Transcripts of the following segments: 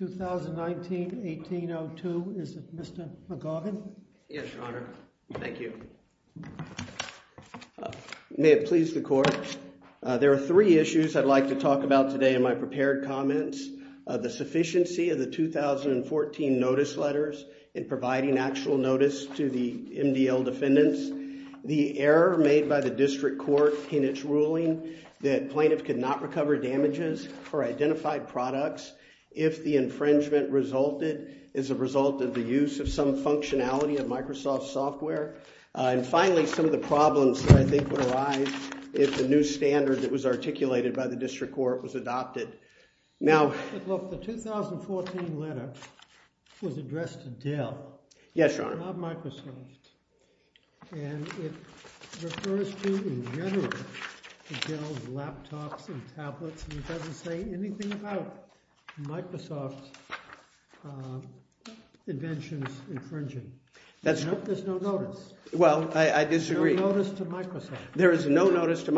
2019-1802. Is it Mr. McGaugin? Yes, your honor. Thank you. May it please the court. There are three issues I'd like to talk about today in my prepared comments. The sufficiency of the 2014 notice letters in providing actual notice to the MDL defendants, the error made by the district court in its ruling that identified products, if the infringement resulted as a result of the use of some functionality of Microsoft software, and finally some of the problems that I think would arise if the new standard that was articulated by the district court was adopted. The 2014 letter was addressed to Dell, not Microsoft, and it refers to, in general, Dell's laptops and tablets, and it doesn't say anything about Microsoft's inventions infringing. There's no notice. Well, I disagree. No notice to Microsoft. There is no notice to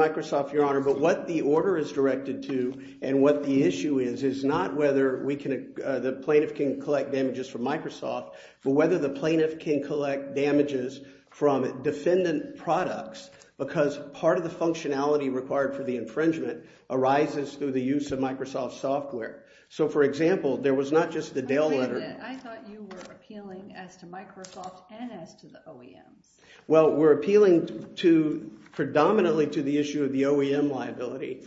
and what the issue is, is not whether we can, the plaintiff can collect damages from Microsoft, but whether the plaintiff can collect damages from defendant products, because part of the functionality required for the infringement arises through the use of Microsoft software. So, for example, there was not just the Dell letter. I thought you were appealing as to Microsoft and as to the OEMs. Well, we're appealing to, predominantly, to the issue of the OEM liability.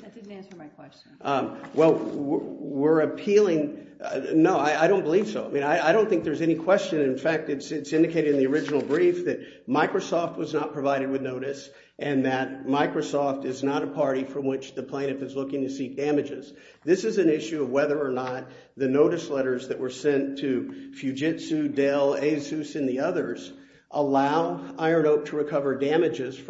Well, we're appealing, no, I don't believe so. I mean, I don't think there's any question. In fact, it's indicated in the original brief that Microsoft was not provided with notice and that Microsoft is not a party from which the plaintiff is looking to seek damages. This is an issue of whether or not the notice letters that were sent to Fujitsu, Dell, Asus, and the others allow Iron Oak to collect damages, at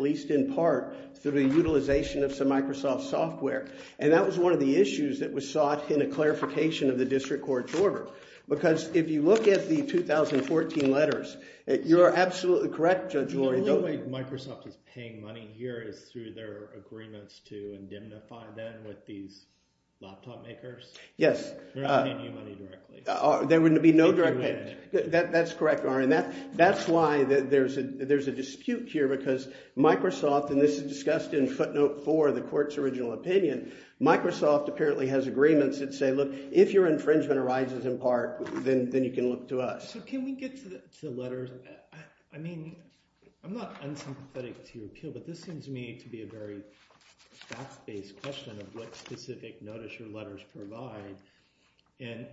least in part, through the utilization of some Microsoft software. And that was one of the issues that was sought in a clarification of the district court's order, because if you look at the 2014 letters, you're absolutely correct, Judge Lori. The only way Microsoft is paying money here is through their agreements to indemnify them with these laptop makers. Yes. They're not paying you money directly. There would be no direct payment. That's correct, Ari, and that's why there's a dispute here, because Microsoft, and this is discussed in footnote four of the court's original opinion, Microsoft apparently has agreements that say, look, if your infringement arises in part, then you can look to us. So can we get to the letters? I mean, I'm not unsympathetic to your appeal, but this seems to me to be a very facts-based question of what specific notice your letters provide. And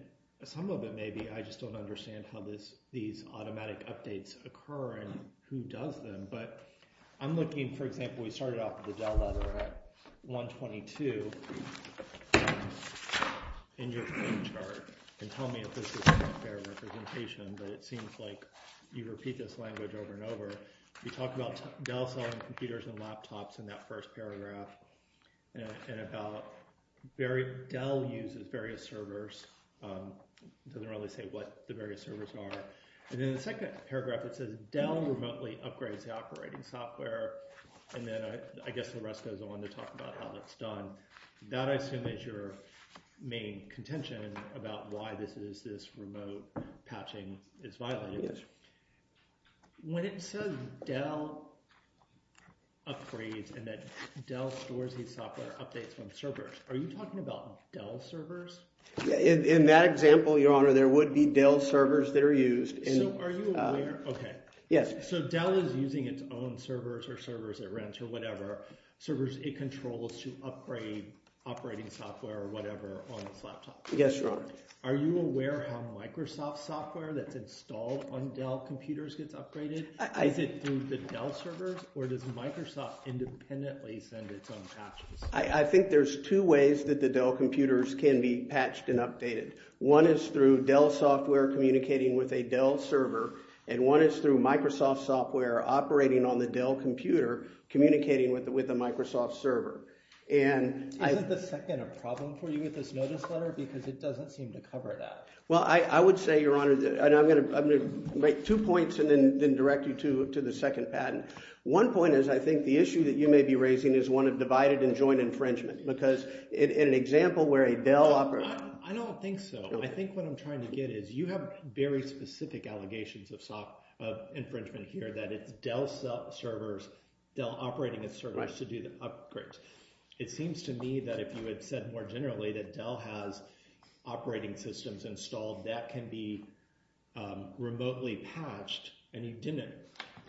some of it may be I just don't understand how these automatic updates occur and who does them. But I'm looking, for example, we started off with the Dell letter at 122 in your chart, and tell me if this is a fair representation, but it seems like you repeat this language over and over. You talk about Dell selling computers and laptops in that first paragraph and about Dell uses various servers. It doesn't really say what the various servers are. And in the second paragraph, it says Dell remotely upgrades the operating software, and then I guess the rest goes on to talk about how that's done. That, I assume, is your main contention about why this remote patching is violated. Yes. When it says Dell upgrades and that Dell stores these software updates from servers, are you talking about Dell servers? In that example, Your Honor, there would be Dell servers that are used. So are you aware? OK. Yes. So Dell is using its own servers or servers at rent or whatever, servers it controls to upgrade operating software or whatever on its laptop. Yes, Your Honor. Are you aware how Microsoft software that's installed on Dell computers gets upgraded? Is it through the Dell servers or does Microsoft independently send its own patches? I think there's two ways that the Dell computers can be patched and updated. One is through Dell software communicating with a Dell server, and one is through Microsoft software operating on the Dell computer communicating with a Microsoft server. Isn't the second a problem for you with this notice letter because it doesn't seem to cover that? Well, I would say, Your Honor, and I'm going to make two points and then direct you to the second patent. One point is I think the issue that you may be raising is one of divided and joint infringement because in an example where a Dell – I don't think so. I think what I'm trying to get is you have very specific allegations of infringement here that it's Dell servers, Dell operating its servers to do the upgrades. It seems to me that if you had said more generally that Dell has operating systems installed that can be remotely patched and you didn't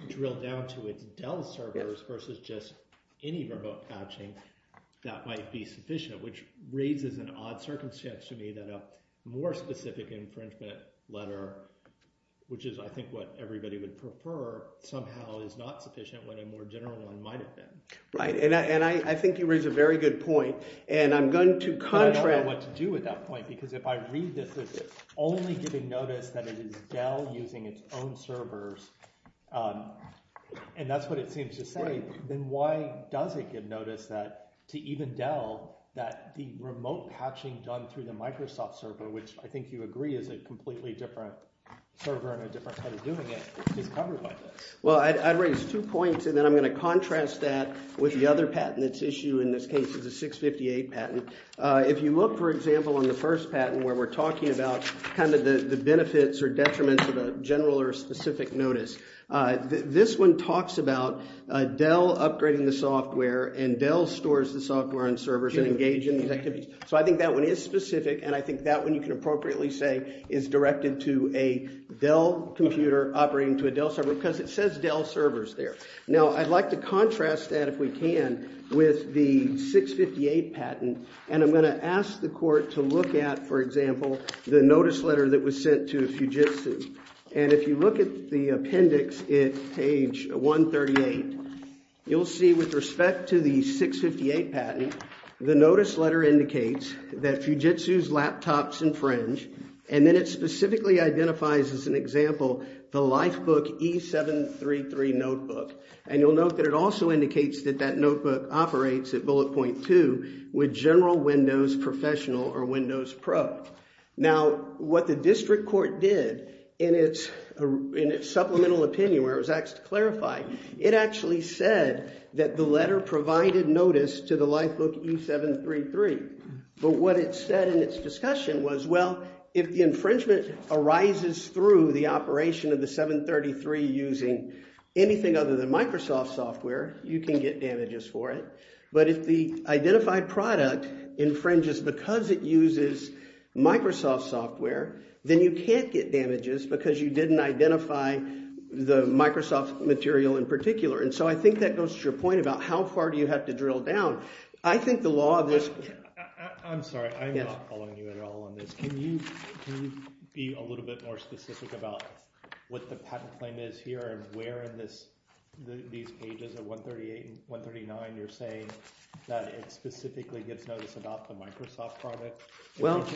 drill down to its Dell servers versus just any remote patching, that might be sufficient, which raises an odd circumstance to me that a more specific infringement letter, which is I think what everybody would prefer, somehow is not sufficient when a more general one might have been. Right, and I think you raise a very good point, and I'm going to contrast – I don't know what to do with that point because if I read this as only giving notice that it is Dell using its own servers and that's what it seems to say, then why does it give notice that – to even Dell that the remote patching done through the Microsoft server, which I think you agree is a completely different server and a different way of doing it, is covered by this. Well, I'd raise two points, and then I'm going to contrast that with the other patent that's issued. In this case, it's a 658 patent. If you look, for example, on the first patent where we're talking about kind of the benefits or detriments of a general or specific notice, this one talks about Dell upgrading the software and Dell stores the software and servers and engage in these activities. So I think that one is specific, and I think that one you can appropriately say is directed to a Dell computer operating to a Dell server because it says Dell servers there. Now, I'd like to contrast that, if we can, with the 658 patent, and I'm going to ask the court to look at, for example, the notice letter that was sent to Fujitsu. And if you look at the appendix at page 138, you'll see with respect to the 658 patent, the notice letter indicates that Fujitsu's laptops infringe, and then it specifically identifies, as an example, the Lifebook E733 notebook. And you'll note that it also indicates that that notebook operates at bullet point two with General Windows Professional or Windows Pro. Now, what the district court did in its supplemental opinion, where it was asked to clarify, it actually said that the letter provided notice to the Lifebook E733. But what it said in its discussion was, well, if the infringement arises through the operation of the 733 using anything other than Microsoft software, you can get damages for it. But if the identified product infringes because it uses Microsoft software, then you can't get damages because you didn't identify the Microsoft material in particular. And so I think that goes to your point about how far do you have to drill down. I think the law of this – I'm sorry. I'm not following you at all on this. Can you be a little bit more specific about what the patent claim is here and where in these pages of 138 and 139 you're saying that it specifically gives notice about the Microsoft product? Well,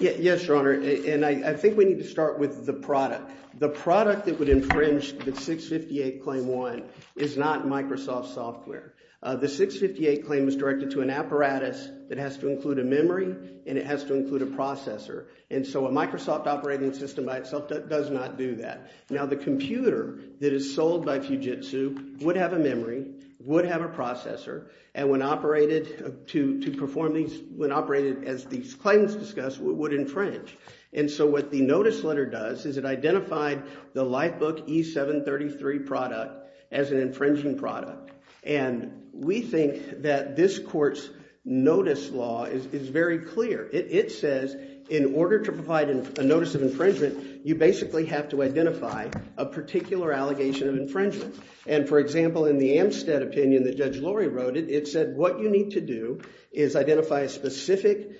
yes, Your Honor, and I think we need to start with the product. The product that would infringe the 658 claim one is not Microsoft software. The 658 claim is directed to an apparatus that has to include a memory and it has to include a processor. And so a Microsoft operating system by itself does not do that. Now, the computer that is sold by Fujitsu would have a memory, would have a processor, and when operated to perform these – when operated, as these claims discuss, would infringe. And so what the notice letter does is it identified the Lifebook E733 product as an infringing product. And we think that this court's notice law is very clear. It says in order to provide a notice of infringement, you basically have to identify a particular allegation of infringement. And, for example, in the Amstead opinion that Judge Lori wrote it, it said what you need to do is identify a specific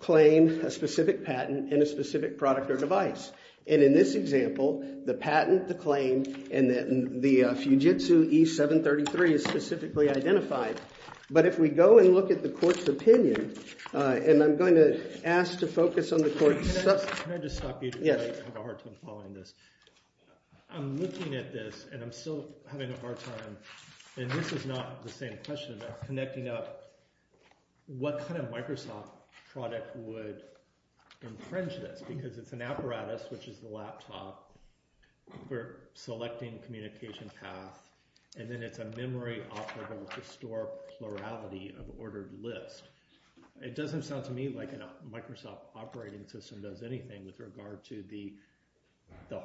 claim, a specific patent, and a specific product or device. And in this example, the patent, the claim, and the Fujitsu E733 is specifically identified. But if we go and look at the court's opinion, and I'm going to ask to focus on the court's – Can I just stop you? I have a hard time following this. I'm looking at this, and I'm still having a hard time, and this is not the same question. I'm connecting up what kind of Microsoft product would infringe this because it's an apparatus, which is the laptop. We're selecting communication path, and then it's a memory operable to store plurality of ordered list. It doesn't sound to me like a Microsoft operating system does anything with regard to the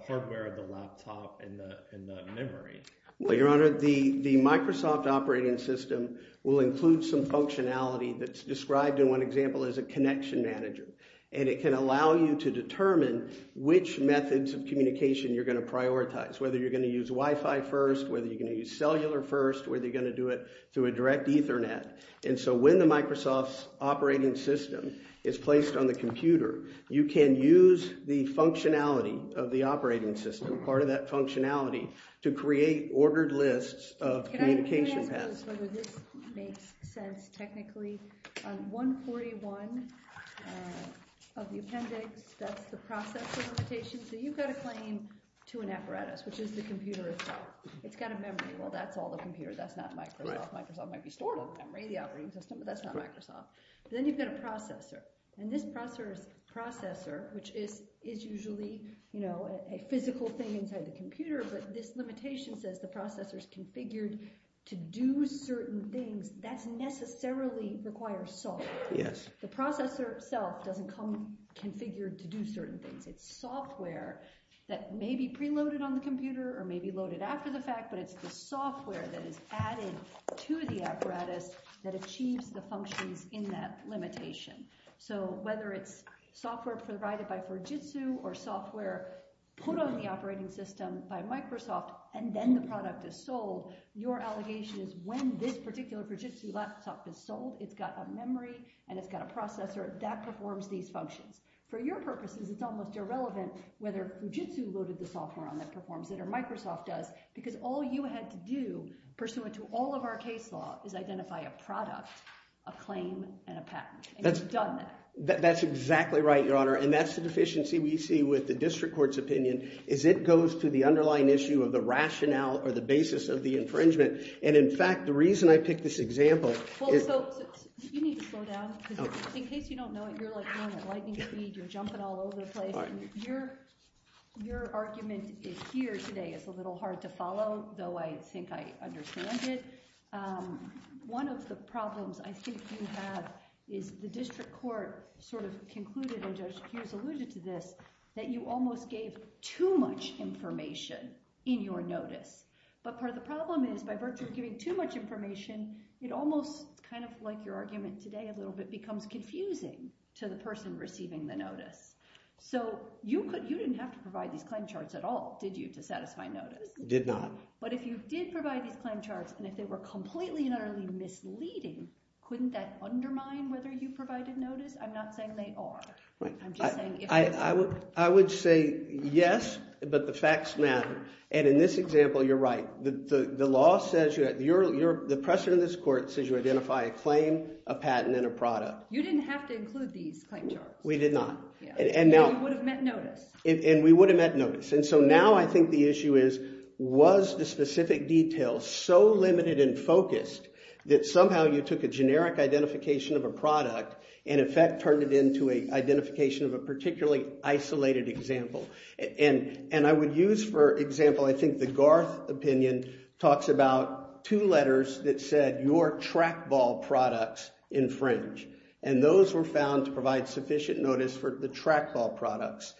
hardware of the laptop and the memory. Well, Your Honor, the Microsoft operating system will include some functionality that's described in one example as a connection manager. And it can allow you to determine which methods of communication you're going to prioritize, whether you're going to use Wi-Fi first, whether you're going to use cellular first, whether you're going to do it through a direct Ethernet. And so when the Microsoft's operating system is placed on the computer, you can use the functionality of the operating system, part of that functionality, to create ordered lists of communication paths. Can I ask whether this makes sense technically? On 141 of the appendix, that's the process of limitation, so you've got a claim to an apparatus, which is the computer itself. It's got a memory. Well, that's all the computer. That's not Microsoft. Microsoft might be stored on the memory of the operating system, but that's not Microsoft. Then you've got a processor, and this processor, which is usually a physical thing inside the computer, but this limitation says the processor's configured to do certain things. That doesn't necessarily require software. The processor itself doesn't come configured to do certain things. It's software that may be preloaded on the computer or may be loaded after the fact, but it's the software that is added to the apparatus that achieves the functions in that limitation. So whether it's software provided by Fujitsu or software put on the operating system by Microsoft and then the product is sold, your allegation is when this particular Fujitsu laptop is sold, it's got a memory and it's got a processor that performs these functions. For your purposes, it's almost irrelevant whether Fujitsu loaded the software on that, performs it, or Microsoft does, because all you had to do, pursuant to all of our case law, is identify a product, a claim, and a patent, and you've done that. That's exactly right, Your Honor, and that's the deficiency we see with the district court's opinion is it goes to the underlying issue of the rationale or the basis of the infringement, and in fact, the reason I picked this example is… So you need to slow down, because in case you don't know it, you're going at lightning speed, you're jumping all over the place, and your argument here today is a little hard to follow, though I think I understand it. One of the problems I think you have is the district court sort of concluded, and Judge Hughes alluded to this, that you almost gave too much information in your notice, but part of the problem is by virtue of giving too much information, it almost, kind of like your argument today a little bit, becomes confusing to the person receiving the notice. So you didn't have to provide these claim charts at all, did you, to satisfy notice? Did not. But if you did provide these claim charts, and if they were completely and utterly misleading, couldn't that undermine whether you provided notice? I'm not saying they are. I'm just saying… I would say yes, but the facts matter, and in this example, you're right. The law says you're – the precedent in this court says you identify a claim, a patent, and a product. You didn't have to include these claim charts. We did not. And we would have met notice. And so now I think the issue is was the specific detail so limited and focused that somehow you took a generic identification of a product and in fact turned it into an identification of a particularly isolated example? And I would use, for example, I think the Garth opinion talks about two letters that said your trackball products infringe, and those were found to provide sufficient notice for the trackball products.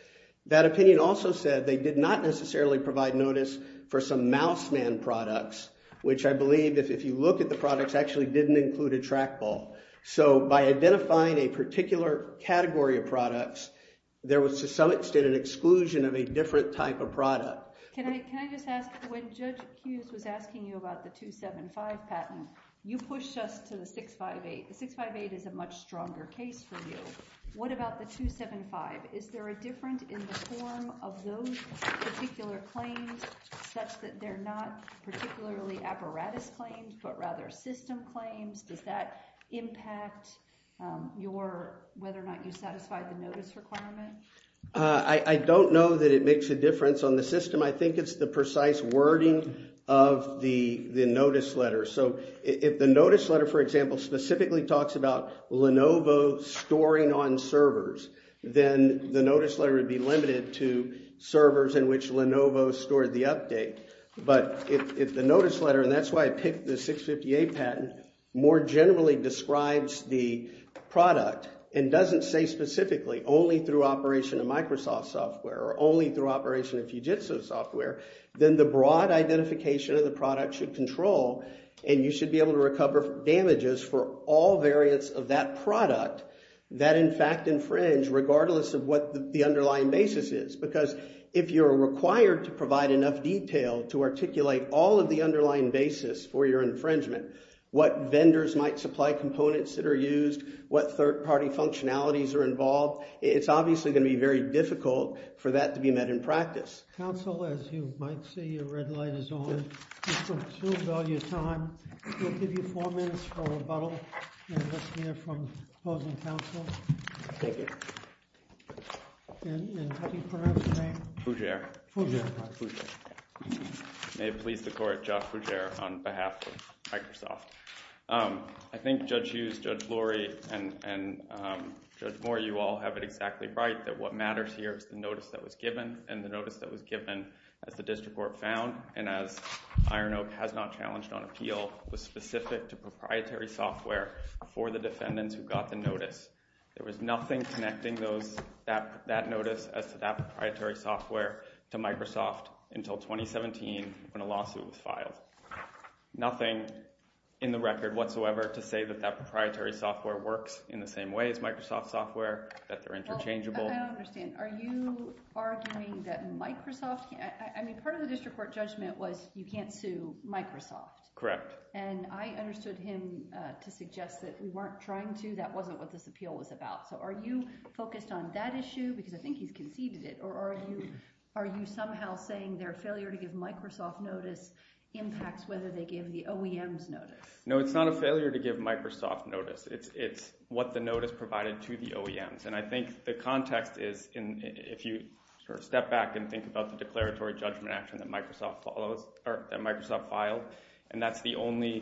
That opinion also said they did not necessarily provide notice for some mouseman products, which I believe if you look at the products actually didn't include a trackball. So by identifying a particular category of products, there was to some extent an exclusion of a different type of product. Can I just ask? When Judge Hughes was asking you about the 275 patent, you pushed us to the 658. The 658 is a much stronger case for you. What about the 275? Is there a difference in the form of those particular claims such that they're not particularly apparatus claims but rather system claims? Does that impact whether or not you satisfy the notice requirement? I don't know that it makes a difference on the system. I think it's the precise wording of the notice letter. So if the notice letter, for example, specifically talks about Lenovo storing on servers, then the notice letter would be limited to servers in which Lenovo stored the update. But if the notice letter, and that's why I picked the 658 patent, more generally describes the product and doesn't say specifically only through operation of Microsoft software or only through operation of Fujitsu software, then the broad identification of the product should control and you should be able to recover damages for all variants of that product that in fact infringe regardless of what the underlying basis is. Because if you're required to provide enough detail to articulate all of the underlying basis for your infringement, what vendors might supply components that are used, what third party functionalities are involved, it's obviously going to be very difficult for that to be met in practice. Counsel, as you might see, your red light is on. You've consumed all your time. We'll give you four minutes for rebuttal and let's hear from opposing counsel. Thank you. And have you pronounced your name? Fougere. Fougere. May it please the court, Josh Fougere on behalf of Microsoft. I think Judge Hughes, Judge Lori, and Judge Moore, you all have it exactly right that what matters here is the notice that was given and the notice that was given as the district court found and as Iron Oak has not challenged on appeal, was specific to proprietary software for the defendants who got the notice. There was nothing connecting that notice as to that proprietary software to Microsoft until 2017 when a lawsuit was filed. Nothing in the record whatsoever to say that that proprietary software works in the same way as Microsoft software, that they're interchangeable. I don't understand. Are you arguing that Microsoft – I mean, part of the district court judgment was you can't sue Microsoft. Correct. And I understood him to suggest that we weren't trying to. That wasn't what this appeal was about. So are you focused on that issue? Because I think he's conceded it. Or are you somehow saying their failure to give Microsoft notice impacts whether they give the OEM's notice? No, it's not a failure to give Microsoft notice. It's what the notice provided to the OEMs. And I think the context is if you step back and think about the declaratory judgment action that Microsoft filed, and that's the only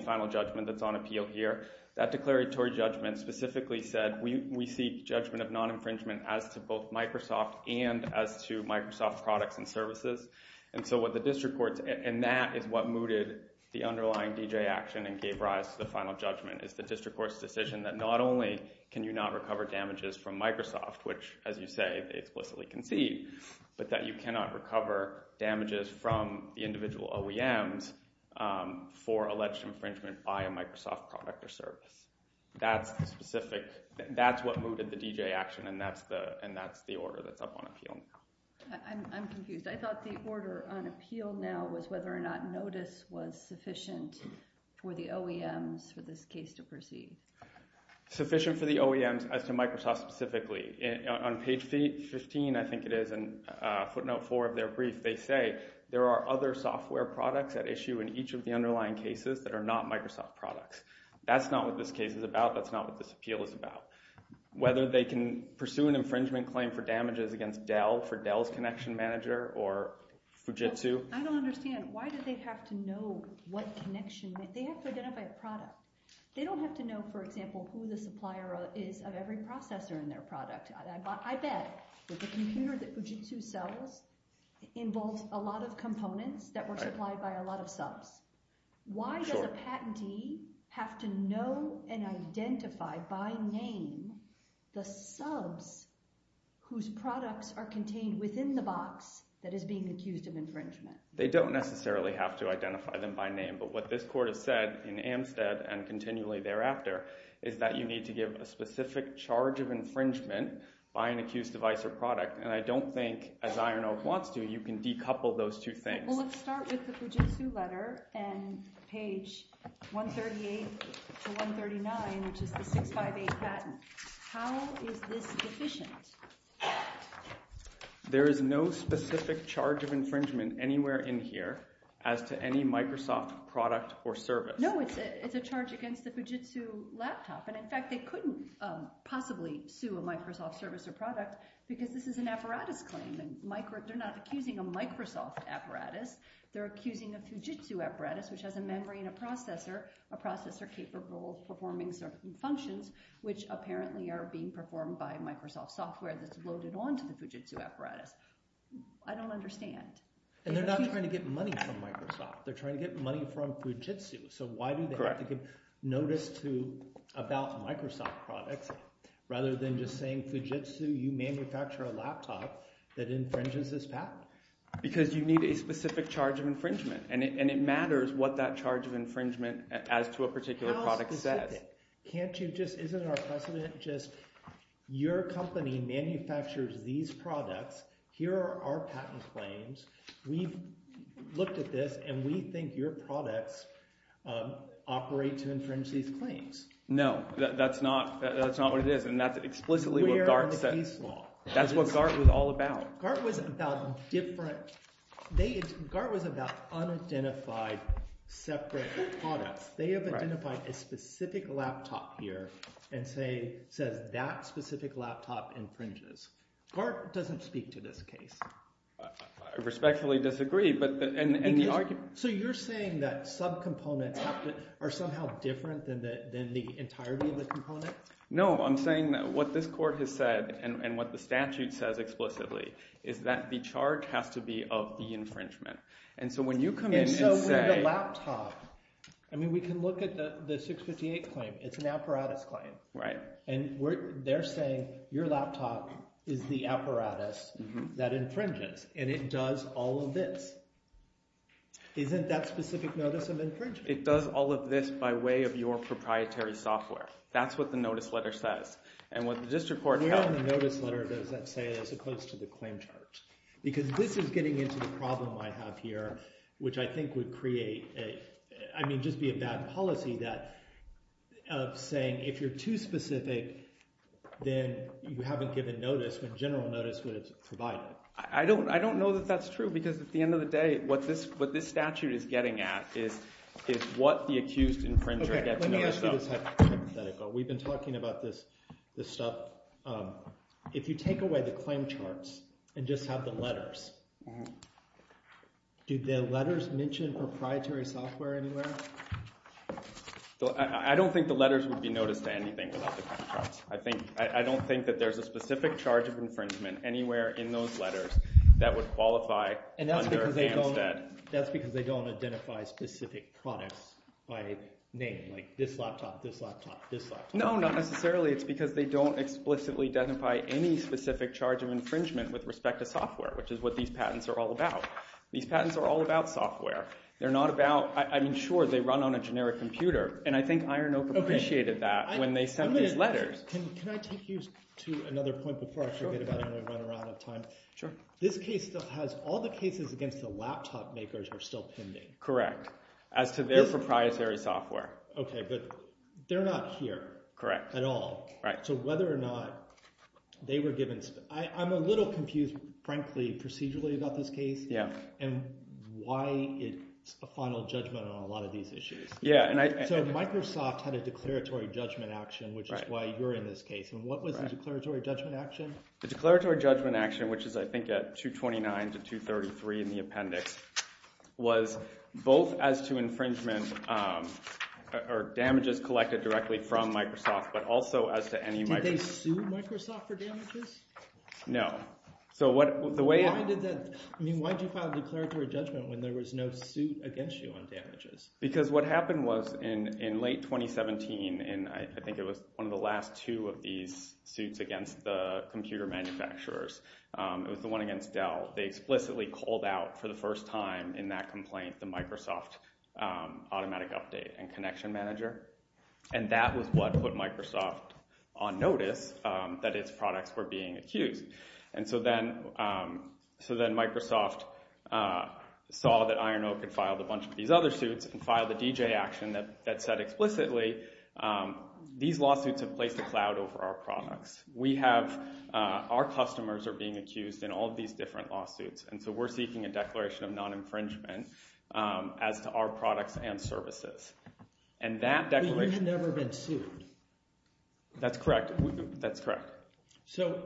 final judgment that's on appeal here. That declaratory judgment specifically said we seek judgment of non-infringement as to both Microsoft and as to Microsoft products and services. And so what the district court – and that is what mooted the underlying D.J. action and gave rise to the final judgment is the district court's decision that not only can you not recover damages from Microsoft, which, as you say, they explicitly concede, but that you cannot recover damages from the individual OEMs for alleged infringement by a Microsoft product or service. That's the specific – that's what mooted the D.J. action, and that's the order that's up on appeal now. I'm confused. I thought the order on appeal now was whether or not notice was sufficient for the OEMs for this case to proceed. Sufficient for the OEMs as to Microsoft specifically. On page 15, I think it is, in footnote 4 of their brief, they say there are other software products at issue in each of the underlying cases that are not Microsoft products. That's not what this case is about. That's not what this appeal is about. Whether they can pursue an infringement claim for damages against Dell for Dell's connection manager or Fujitsu. I don't understand. Why did they have to know what connection – they have to identify a product. They don't have to know, for example, who the supplier is of every processor in their product. I bet that the computer that Fujitsu sells involves a lot of components that were supplied by a lot of subs. Why does a patentee have to know and identify by name the subs whose products are contained within the box that is being accused of infringement? They don't necessarily have to identify them by name. But what this court has said in Amstead and continually thereafter is that you need to give a specific charge of infringement by an accused device or product. And I don't think, as Iron Oak wants to, you can decouple those two things. Well, let's start with the Fujitsu letter and page 138 to 139, which is the 658 patent. How is this deficient? There is no specific charge of infringement anywhere in here as to any Microsoft product or service. No, it's a charge against the Fujitsu laptop. And, in fact, they couldn't possibly sue a Microsoft service or product because this is an apparatus claim. They're not accusing a Microsoft apparatus. They're accusing a Fujitsu apparatus, which has a memory and a processor, a processor capable of performing certain functions, which apparently are being performed by Microsoft software that's loaded onto the Fujitsu apparatus. I don't understand. And they're not trying to get money from Microsoft. They're trying to get money from Fujitsu. So why do they have to give notice to – about Microsoft products rather than just saying, Fujitsu, you manufacture a laptop that infringes this patent? Because you need a specific charge of infringement, and it matters what that charge of infringement as to a particular product says. How specific? Can't you just – isn't our precedent just your company manufactures these products? Here are our patent claims. We've looked at this, and we think your products operate to infringe these claims. No, that's not what it is, and that's explicitly what Gart said. We are on the peace law. That's what Gart was all about. Gart was about different – Gart was about unidentified separate products. They have identified a specific laptop here and say – says that specific laptop infringes. Gart doesn't speak to this case. I respectfully disagree, but – and the argument – So you're saying that subcomponents are somehow different than the entirety of the component? No, I'm saying that what this court has said and what the statute says explicitly is that the charge has to be of the infringement. And so when you come in and say – And so the laptop – I mean we can look at the 658 claim. It's an apparatus claim, and they're saying your laptop is the apparatus that infringes, and it does all of this. Isn't that specific notice of infringement? It does all of this by way of your proprietary software. That's what the notice letter says. And what the district court – Where on the notice letter does that say as opposed to the claim chart? Because this is getting into the problem I have here, which I think would create a – I mean just be a bad policy that – of saying if you're too specific, then you haven't given notice when general notice would have provided. I don't know that that's true because at the end of the day, what this statute is getting at is what the accused infringer gets noticed of. We've been talking about this stuff. If you take away the claim charts and just have the letters, do the letters mention proprietary software anywhere? I don't think the letters would be noticed to anything without the claim charts. I don't think that there's a specific charge of infringement anywhere in those letters that would qualify under Amstead. That's because they don't identify specific products by name, like this laptop, this laptop, this laptop. No, not necessarily. It's because they don't explicitly identify any specific charge of infringement with respect to software, which is what these patents are all about. These patents are all about software. They're not about – I mean sure, they run on a generic computer, and I think Iron Oak appreciated that when they sent these letters. Can I take you to another point before I forget about it and run out of time? Sure. This case still has – all the cases against the laptop makers are still pending. Correct, as to their proprietary software. Okay, but they're not here at all. Correct. So whether or not they were given – I'm a little confused, frankly, procedurally about this case and why it's a final judgment on a lot of these issues. So Microsoft had a declaratory judgment action, which is why you're in this case. What was the declaratory judgment action? The declaratory judgment action, which is I think at 229 to 233 in the appendix, was both as to infringement or damages collected directly from Microsoft, but also as to any – Did they sue Microsoft for damages? No. Why did that – I mean why did you file a declaratory judgment when there was no suit against you on damages? Because what happened was in late 2017, and I think it was one of the last two of these suits against the computer manufacturers, it was the one against Dell. They explicitly called out for the first time in that complaint the Microsoft automatic update and connection manager, and that was what put Microsoft on notice that its products were being accused. And so then Microsoft saw that Iron Oak had filed a bunch of these other suits and filed a DJ action that said explicitly these lawsuits have placed a cloud over our products. We have – our customers are being accused in all of these different lawsuits, and so we're seeking a declaration of non-infringement as to our products and services. But you had never been sued. That's correct. So,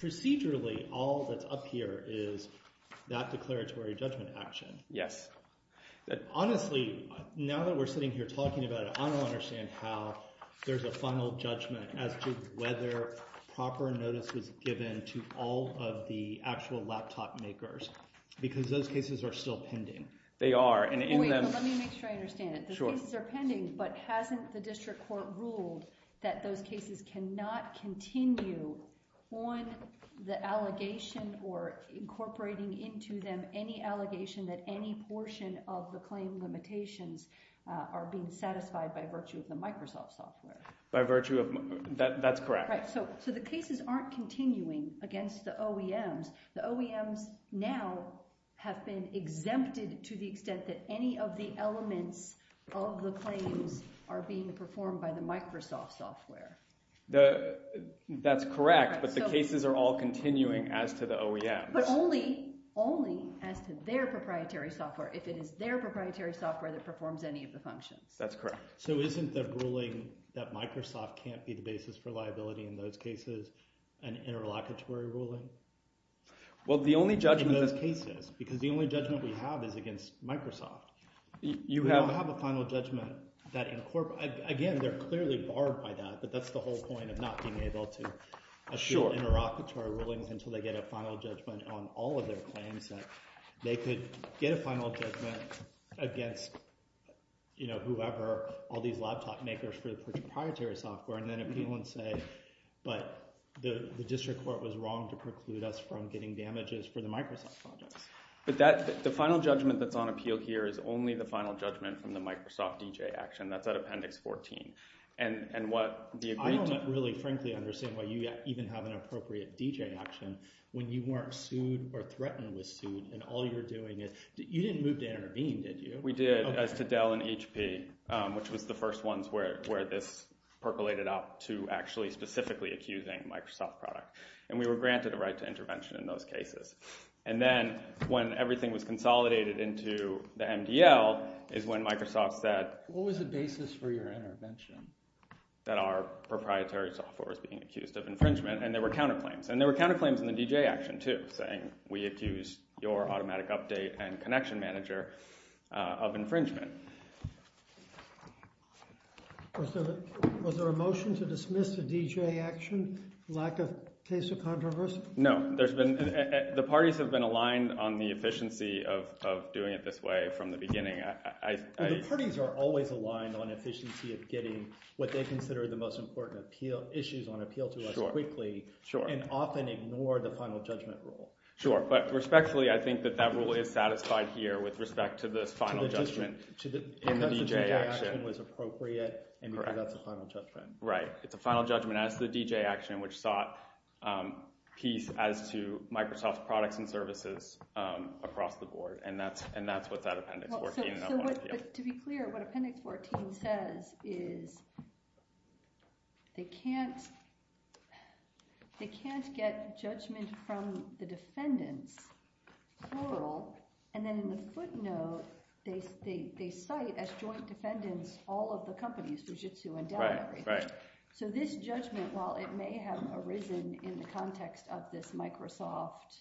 procedurally, all that's up here is that declaratory judgment action. Yes. Honestly, now that we're sitting here talking about it, I don't understand how there's a final judgment as to whether proper notice was given to all of the actual laptop makers because those cases are still pending. They are. Wait, let me make sure I understand it. The cases are pending, but hasn't the district court ruled that those cases cannot continue on the allegation or incorporating into them any allegation that any portion of the claim limitations are being satisfied by virtue of the Microsoft software? By virtue of – that's correct. So, the cases aren't continuing against the OEMs. The OEMs now have been exempted to the extent that any of the elements of the claims are being performed by the Microsoft software. That's correct, but the cases are all continuing as to the OEMs. But only as to their proprietary software, if it is their proprietary software that performs any of the functions. That's correct. So, isn't the ruling that Microsoft can't be the basis for liability in those cases an interlocutory ruling? Well, the only judgment – In those cases because the only judgment we have is against Microsoft. You have – We don't have a final judgment that – again, they're clearly barred by that, but that's the whole point of not being able to assure interlocutory rulings until they get a final judgment on all of their claims. They could get a final judgment against whoever – all these laptop makers for the proprietary software and then appeal and say, but the district court was wrong to preclude us from getting damages for the Microsoft projects. But that – the final judgment that's on appeal here is only the final judgment from the Microsoft DJ action. That's at Appendix 14. And what – I don't really, frankly, understand why you even have an appropriate DJ action when you weren't sued or threatened with suit and all you're doing is – you didn't move to intervene, did you? We did as to Dell and HP, which was the first ones where this percolated up to actually specifically accusing Microsoft product. And we were granted a right to intervention in those cases. And then when everything was consolidated into the MDL is when Microsoft said – What was the basis for your intervention? That our proprietary software was being accused of infringement. And there were counterclaims. And there were counterclaims in the DJ action, too, saying we accused your automatic update and connection manager of infringement. Was there a motion to dismiss the DJ action, lack of case of controversy? No. There's been – the parties have been aligned on the efficiency of doing it this way from the beginning. The parties are always aligned on efficiency of getting what they consider the most important issues on appeal to us quickly and often ignore the final judgment rule. Sure. But respectfully, I think that that rule is satisfied here with respect to this final judgment in the DJ action. Because the DJ action was appropriate and because that's a final judgment. Right. It's a final judgment as to the DJ action, which sought peace as to Microsoft's products and services across the board. And that's what that Appendix 14 says. To be clear, what Appendix 14 says is they can't get judgment from the defendants total. And then in the footnote, they cite as joint defendants all of the companies, Fujitsu and Dell and everything. Right, right. So this judgment, while it may have arisen in the context of this Microsoft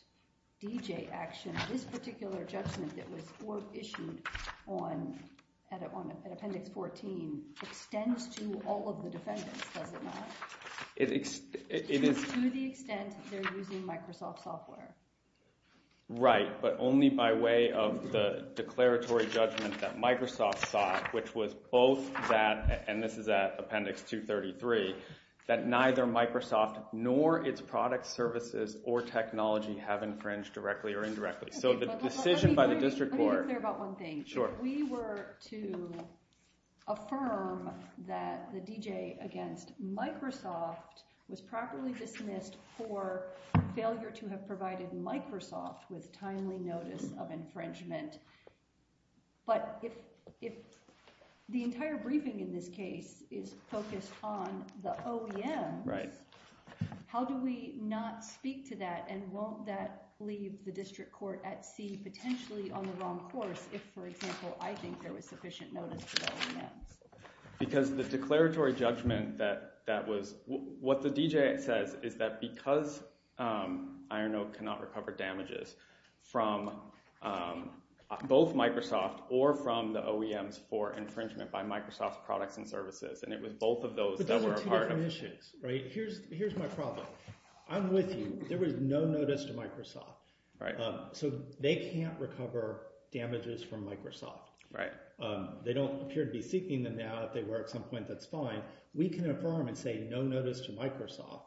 DJ action, this particular judgment that was issued on – at Appendix 14 extends to all of the defendants, does it not? It is – To the extent they're using Microsoft software. Right, but only by way of the declaratory judgment that Microsoft sought, which was both that – and this is at Appendix 233 – that neither Microsoft nor its products, services, or technology have infringed directly or indirectly. So the decision by the district court – Let me be clear about one thing. Sure. If we were to affirm that the DJ against Microsoft was properly dismissed for failure to have provided Microsoft with timely notice of infringement, but if the entire briefing in this case is focused on the OEMs… Right. How do we not speak to that, and won't that leave the district court at sea potentially on the wrong course if, for example, I think there was sufficient notice for the OEMs? Because the declaratory judgment that was – what the DJ says is that because Iron Oak cannot recover damages from both Microsoft or from the OEMs for infringement by Microsoft's products and services, and it was both of those that were a part of – Here's my problem. I'm with you. There was no notice to Microsoft. Right. So they can't recover damages from Microsoft. Right. They don't appear to be seeking them now. If they were at some point, that's fine. We can affirm and say no notice to Microsoft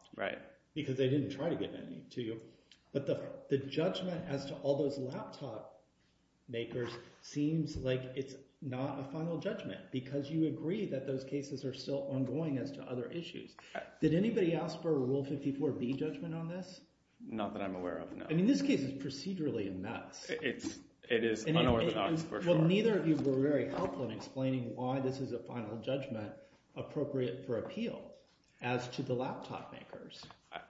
because they didn't try to get any to you. But the judgment as to all those laptop makers seems like it's not a final judgment because you agree that those cases are still ongoing as to other issues. Did anybody ask for a Rule 54B judgment on this? Not that I'm aware of, no. I mean this case is procedurally a mess. It is unorthodox for sure. Well, neither of you were very helpful in explaining why this is a final judgment appropriate for appeal as to the laptop makers.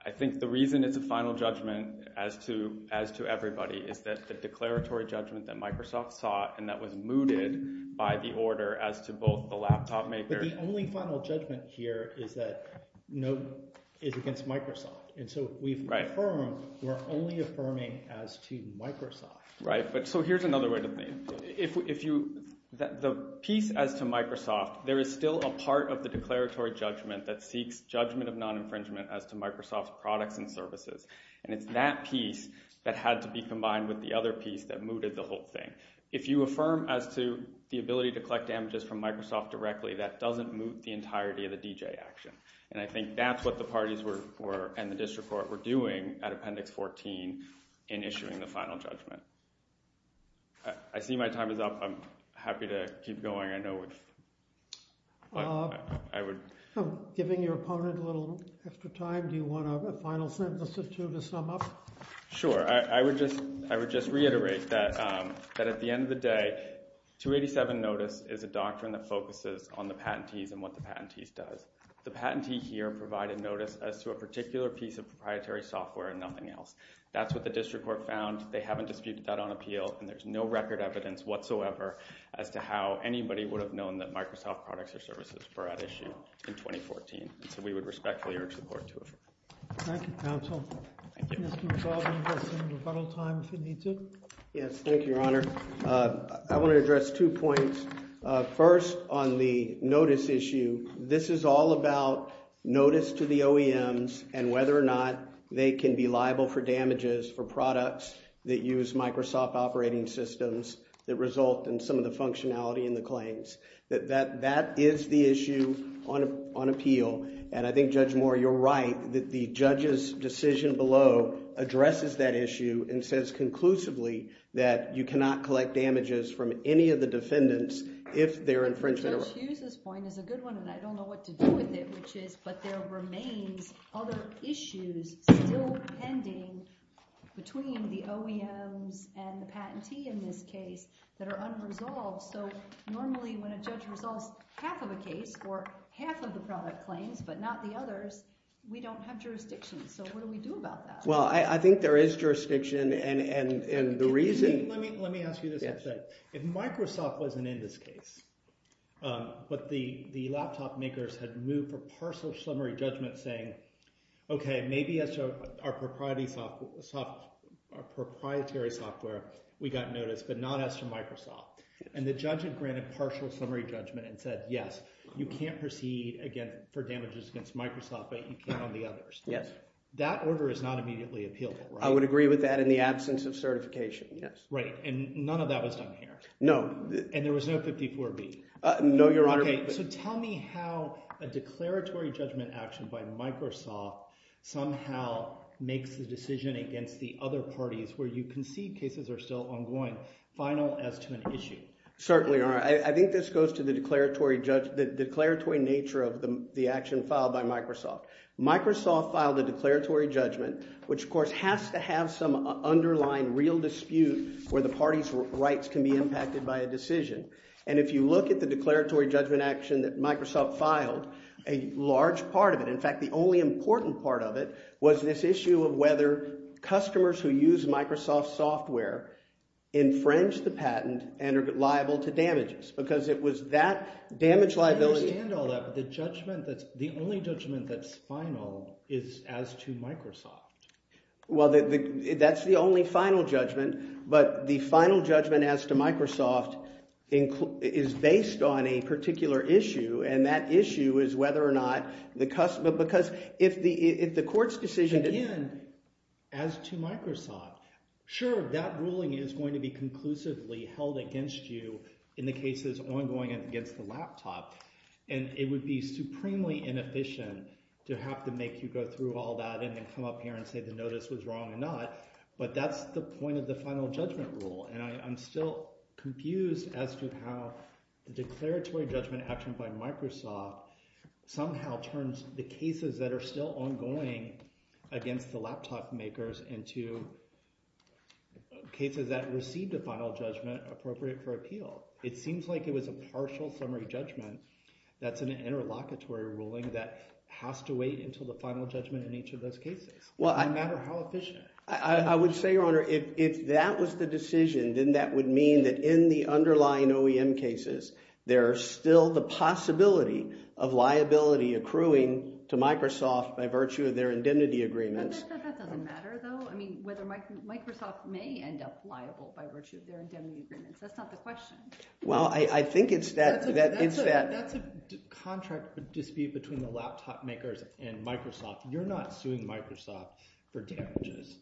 I think the reason it's a final judgment as to everybody is that the declaratory judgment that Microsoft sought and that was mooted by the order as to both the laptop makers— But the only final judgment here is that no – is against Microsoft. Right. And so we've affirmed. We're only affirming as to Microsoft. So here's another way to think. The piece as to Microsoft, there is still a part of the declaratory judgment that seeks judgment of non-infringement as to Microsoft's products and services. And it's that piece that had to be combined with the other piece that mooted the whole thing. If you affirm as to the ability to collect images from Microsoft directly, that doesn't moot the entirety of the DJ action. And I think that's what the parties were – and the district court were doing at Appendix 14 in issuing the final judgment. I see my time is up. I'm happy to keep going. I know we've – I would – I'm giving your opponent a little extra time. Do you want a final sentence or two to sum up? Sure. I would just reiterate that at the end of the day, 287 notice is a doctrine that focuses on the patentees and what the patentees does. So the patentee here provided notice as to a particular piece of proprietary software and nothing else. That's what the district court found. They haven't disputed that on appeal, and there's no record evidence whatsoever as to how anybody would have known that Microsoft products or services were at issue in 2014. So we would respectfully urge the court to affirm. Thank you, counsel. Thank you. Mr. McLaughlin, you have some rebuttal time if you need to. Yes, thank you, Your Honor. I want to address two points. First, on the notice issue, this is all about notice to the OEMs and whether or not they can be liable for damages for products that use Microsoft operating systems that result in some of the functionality in the claims. That is the issue on appeal. And I think, Judge Moore, you're right that the judge's decision below addresses that issue and says conclusively that you cannot collect damages from any of the defendants if they're infringed. Judge Hughes' point is a good one, and I don't know what to do with it, which is, but there remains other issues still pending between the OEMs and the patentee in this case that are unresolved. So normally when a judge resolves half of a case or half of the product claims but not the others, we don't have jurisdiction. So what do we do about that? Well, I think there is jurisdiction, and the reason— If Microsoft wasn't in this case but the laptop makers had moved for partial summary judgment saying, okay, maybe as to our proprietary software we got notice but not as to Microsoft, and the judge had granted partial summary judgment and said, yes, you can't proceed again for damages against Microsoft, but you can on the others. Yes. That order is not immediately appealable, right? I would agree with that in the absence of certification, yes. Right, and none of that was done here? No. And there was no 54B? No, Your Honor. Okay. So tell me how a declaratory judgment action by Microsoft somehow makes the decision against the other parties where you can see cases are still ongoing final as to an issue. Certainly, Your Honor. Microsoft filed a declaratory judgment, which, of course, has to have some underlying real dispute where the party's rights can be impacted by a decision. And if you look at the declaratory judgment action that Microsoft filed, a large part of it—in fact, the only important part of it was this issue of whether customers who use Microsoft software infringe the patent and are liable to damages because it was that damage liability— Well, that's the only final judgment, but the final judgment as to Microsoft is based on a particular issue, and that issue is whether or not the—because if the court's decision— Sure, that ruling is going to be conclusively held against you in the cases ongoing against the laptop, and it would be supremely inefficient to have to make you go through all that and then come up here and say the notice was wrong or not, but that's the point of the final judgment rule. And I'm still confused as to how the declaratory judgment action by Microsoft somehow turns the cases that are still ongoing against the laptop makers into cases that received a final judgment appropriate for appeal. It seems like it was a partial summary judgment that's an interlocutory ruling that has to wait until the final judgment in each of those cases, no matter how efficient. I would say, Your Honor, if that was the decision, then that would mean that in the underlying OEM cases, there is still the possibility of liability accruing to Microsoft by virtue of their indemnity agreements. But that doesn't matter, though. I mean, whether Microsoft may end up liable by virtue of their indemnity agreements, that's not the question. Well, I think it's that – That's a contract dispute between the laptop makers and Microsoft. You're not suing Microsoft for damages.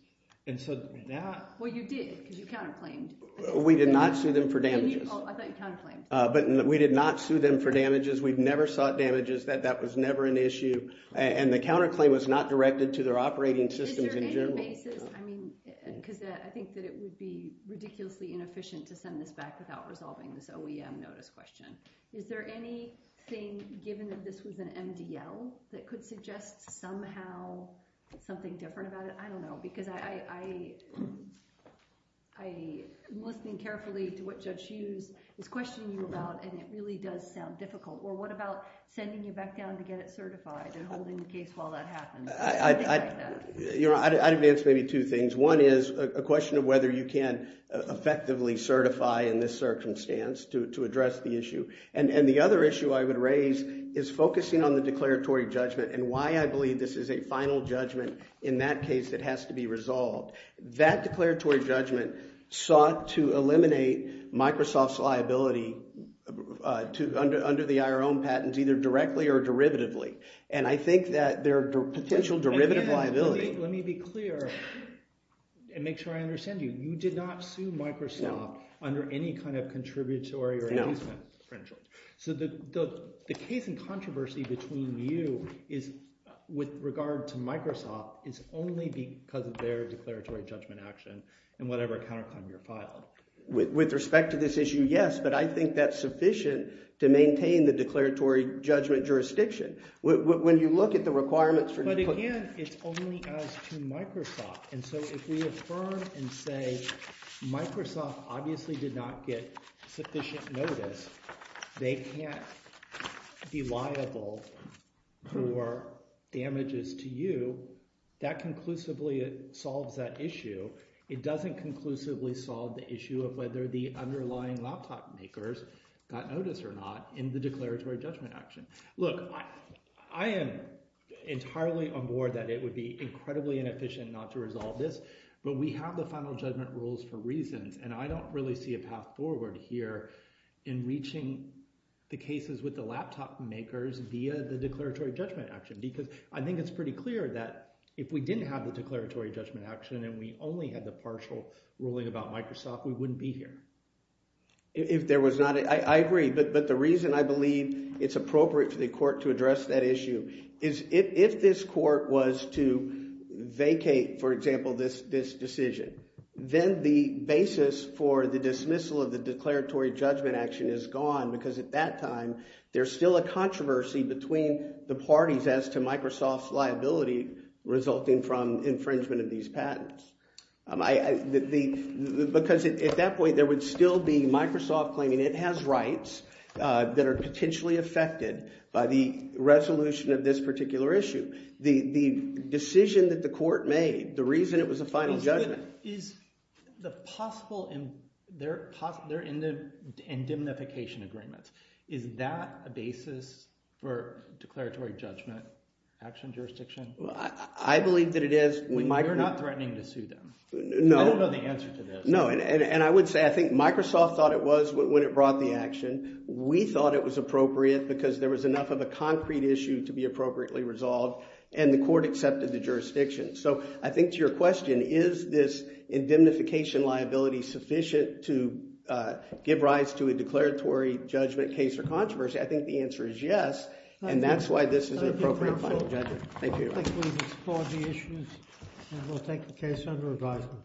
And so that – Well, you did because you counterclaimed. We did not sue them for damages. I thought you counterclaimed. But we did not sue them for damages. We've never sought damages. That was never an issue. And the counterclaim was not directed to their operating systems in general. I mean, because I think that it would be ridiculously inefficient to send this back without resolving this OEM notice question. Is there anything, given that this was an MDL, that could suggest somehow something different about it? I don't know. Because I'm listening carefully to what Judge Hughes is questioning you about, and it really does sound difficult. Well, what about sending you back down to get it certified and holding the case while that happens? I'd advance maybe two things. One is a question of whether you can effectively certify in this circumstance to address the issue. And the other issue I would raise is focusing on the declaratory judgment and why I believe this is a final judgment. In that case, it has to be resolved. That declaratory judgment sought to eliminate Microsoft's liability under the IRM patents either directly or derivatively. And I think that there are potential derivative liabilities. Let me be clear and make sure I understand you. You did not sue Microsoft under any kind of contributory or inducement credential. So the case in controversy between you with regard to Microsoft is only because of their declaratory judgment action in whatever counterclaim you filed. With respect to this issue, yes, but I think that's sufficient to maintain the declaratory judgment jurisdiction. When you look at the requirements for – But again, it's only as to Microsoft. And so if we affirm and say Microsoft obviously did not get sufficient notice, they can't be liable for damages to you, that conclusively solves that issue. It doesn't conclusively solve the issue of whether the underlying laptop makers got notice or not in the declaratory judgment action. Look, I am entirely on board that it would be incredibly inefficient not to resolve this, but we have the final judgment rules for reasons. And I don't really see a path forward here in reaching the cases with the laptop makers via the declaratory judgment action because I think it's pretty clear that if we didn't have the declaratory judgment action and we only had the partial ruling about Microsoft, we wouldn't be here. If there was not – I agree, but the reason I believe it's appropriate for the court to address that issue is if this court was to vacate, for example, this decision, then the basis for the dismissal of the declaratory judgment action is gone because at that time there's still a controversy between the parties as to Microsoft's liability resulting from infringement of these patents. Because at that point there would still be Microsoft claiming it has rights that are potentially affected by the resolution of this particular issue. The decision that the court made, the reason it was a final judgment – Is the possible – they're in the indemnification agreements. Is that a basis for declaratory judgment action jurisdiction? I believe that it is. We're not threatening to sue them. No. I don't know the answer to this. No, and I would say I think Microsoft thought it was when it brought the action. We thought it was appropriate because there was enough of a concrete issue to be appropriately resolved, and the court accepted the jurisdiction. So I think to your question, is this indemnification liability sufficient to give rise to a declaratory judgment case or controversy, I think the answer is yes, and that's why this is an appropriate final judgment. Thank you. I think we've explored the issues, and we'll take the case under advisement.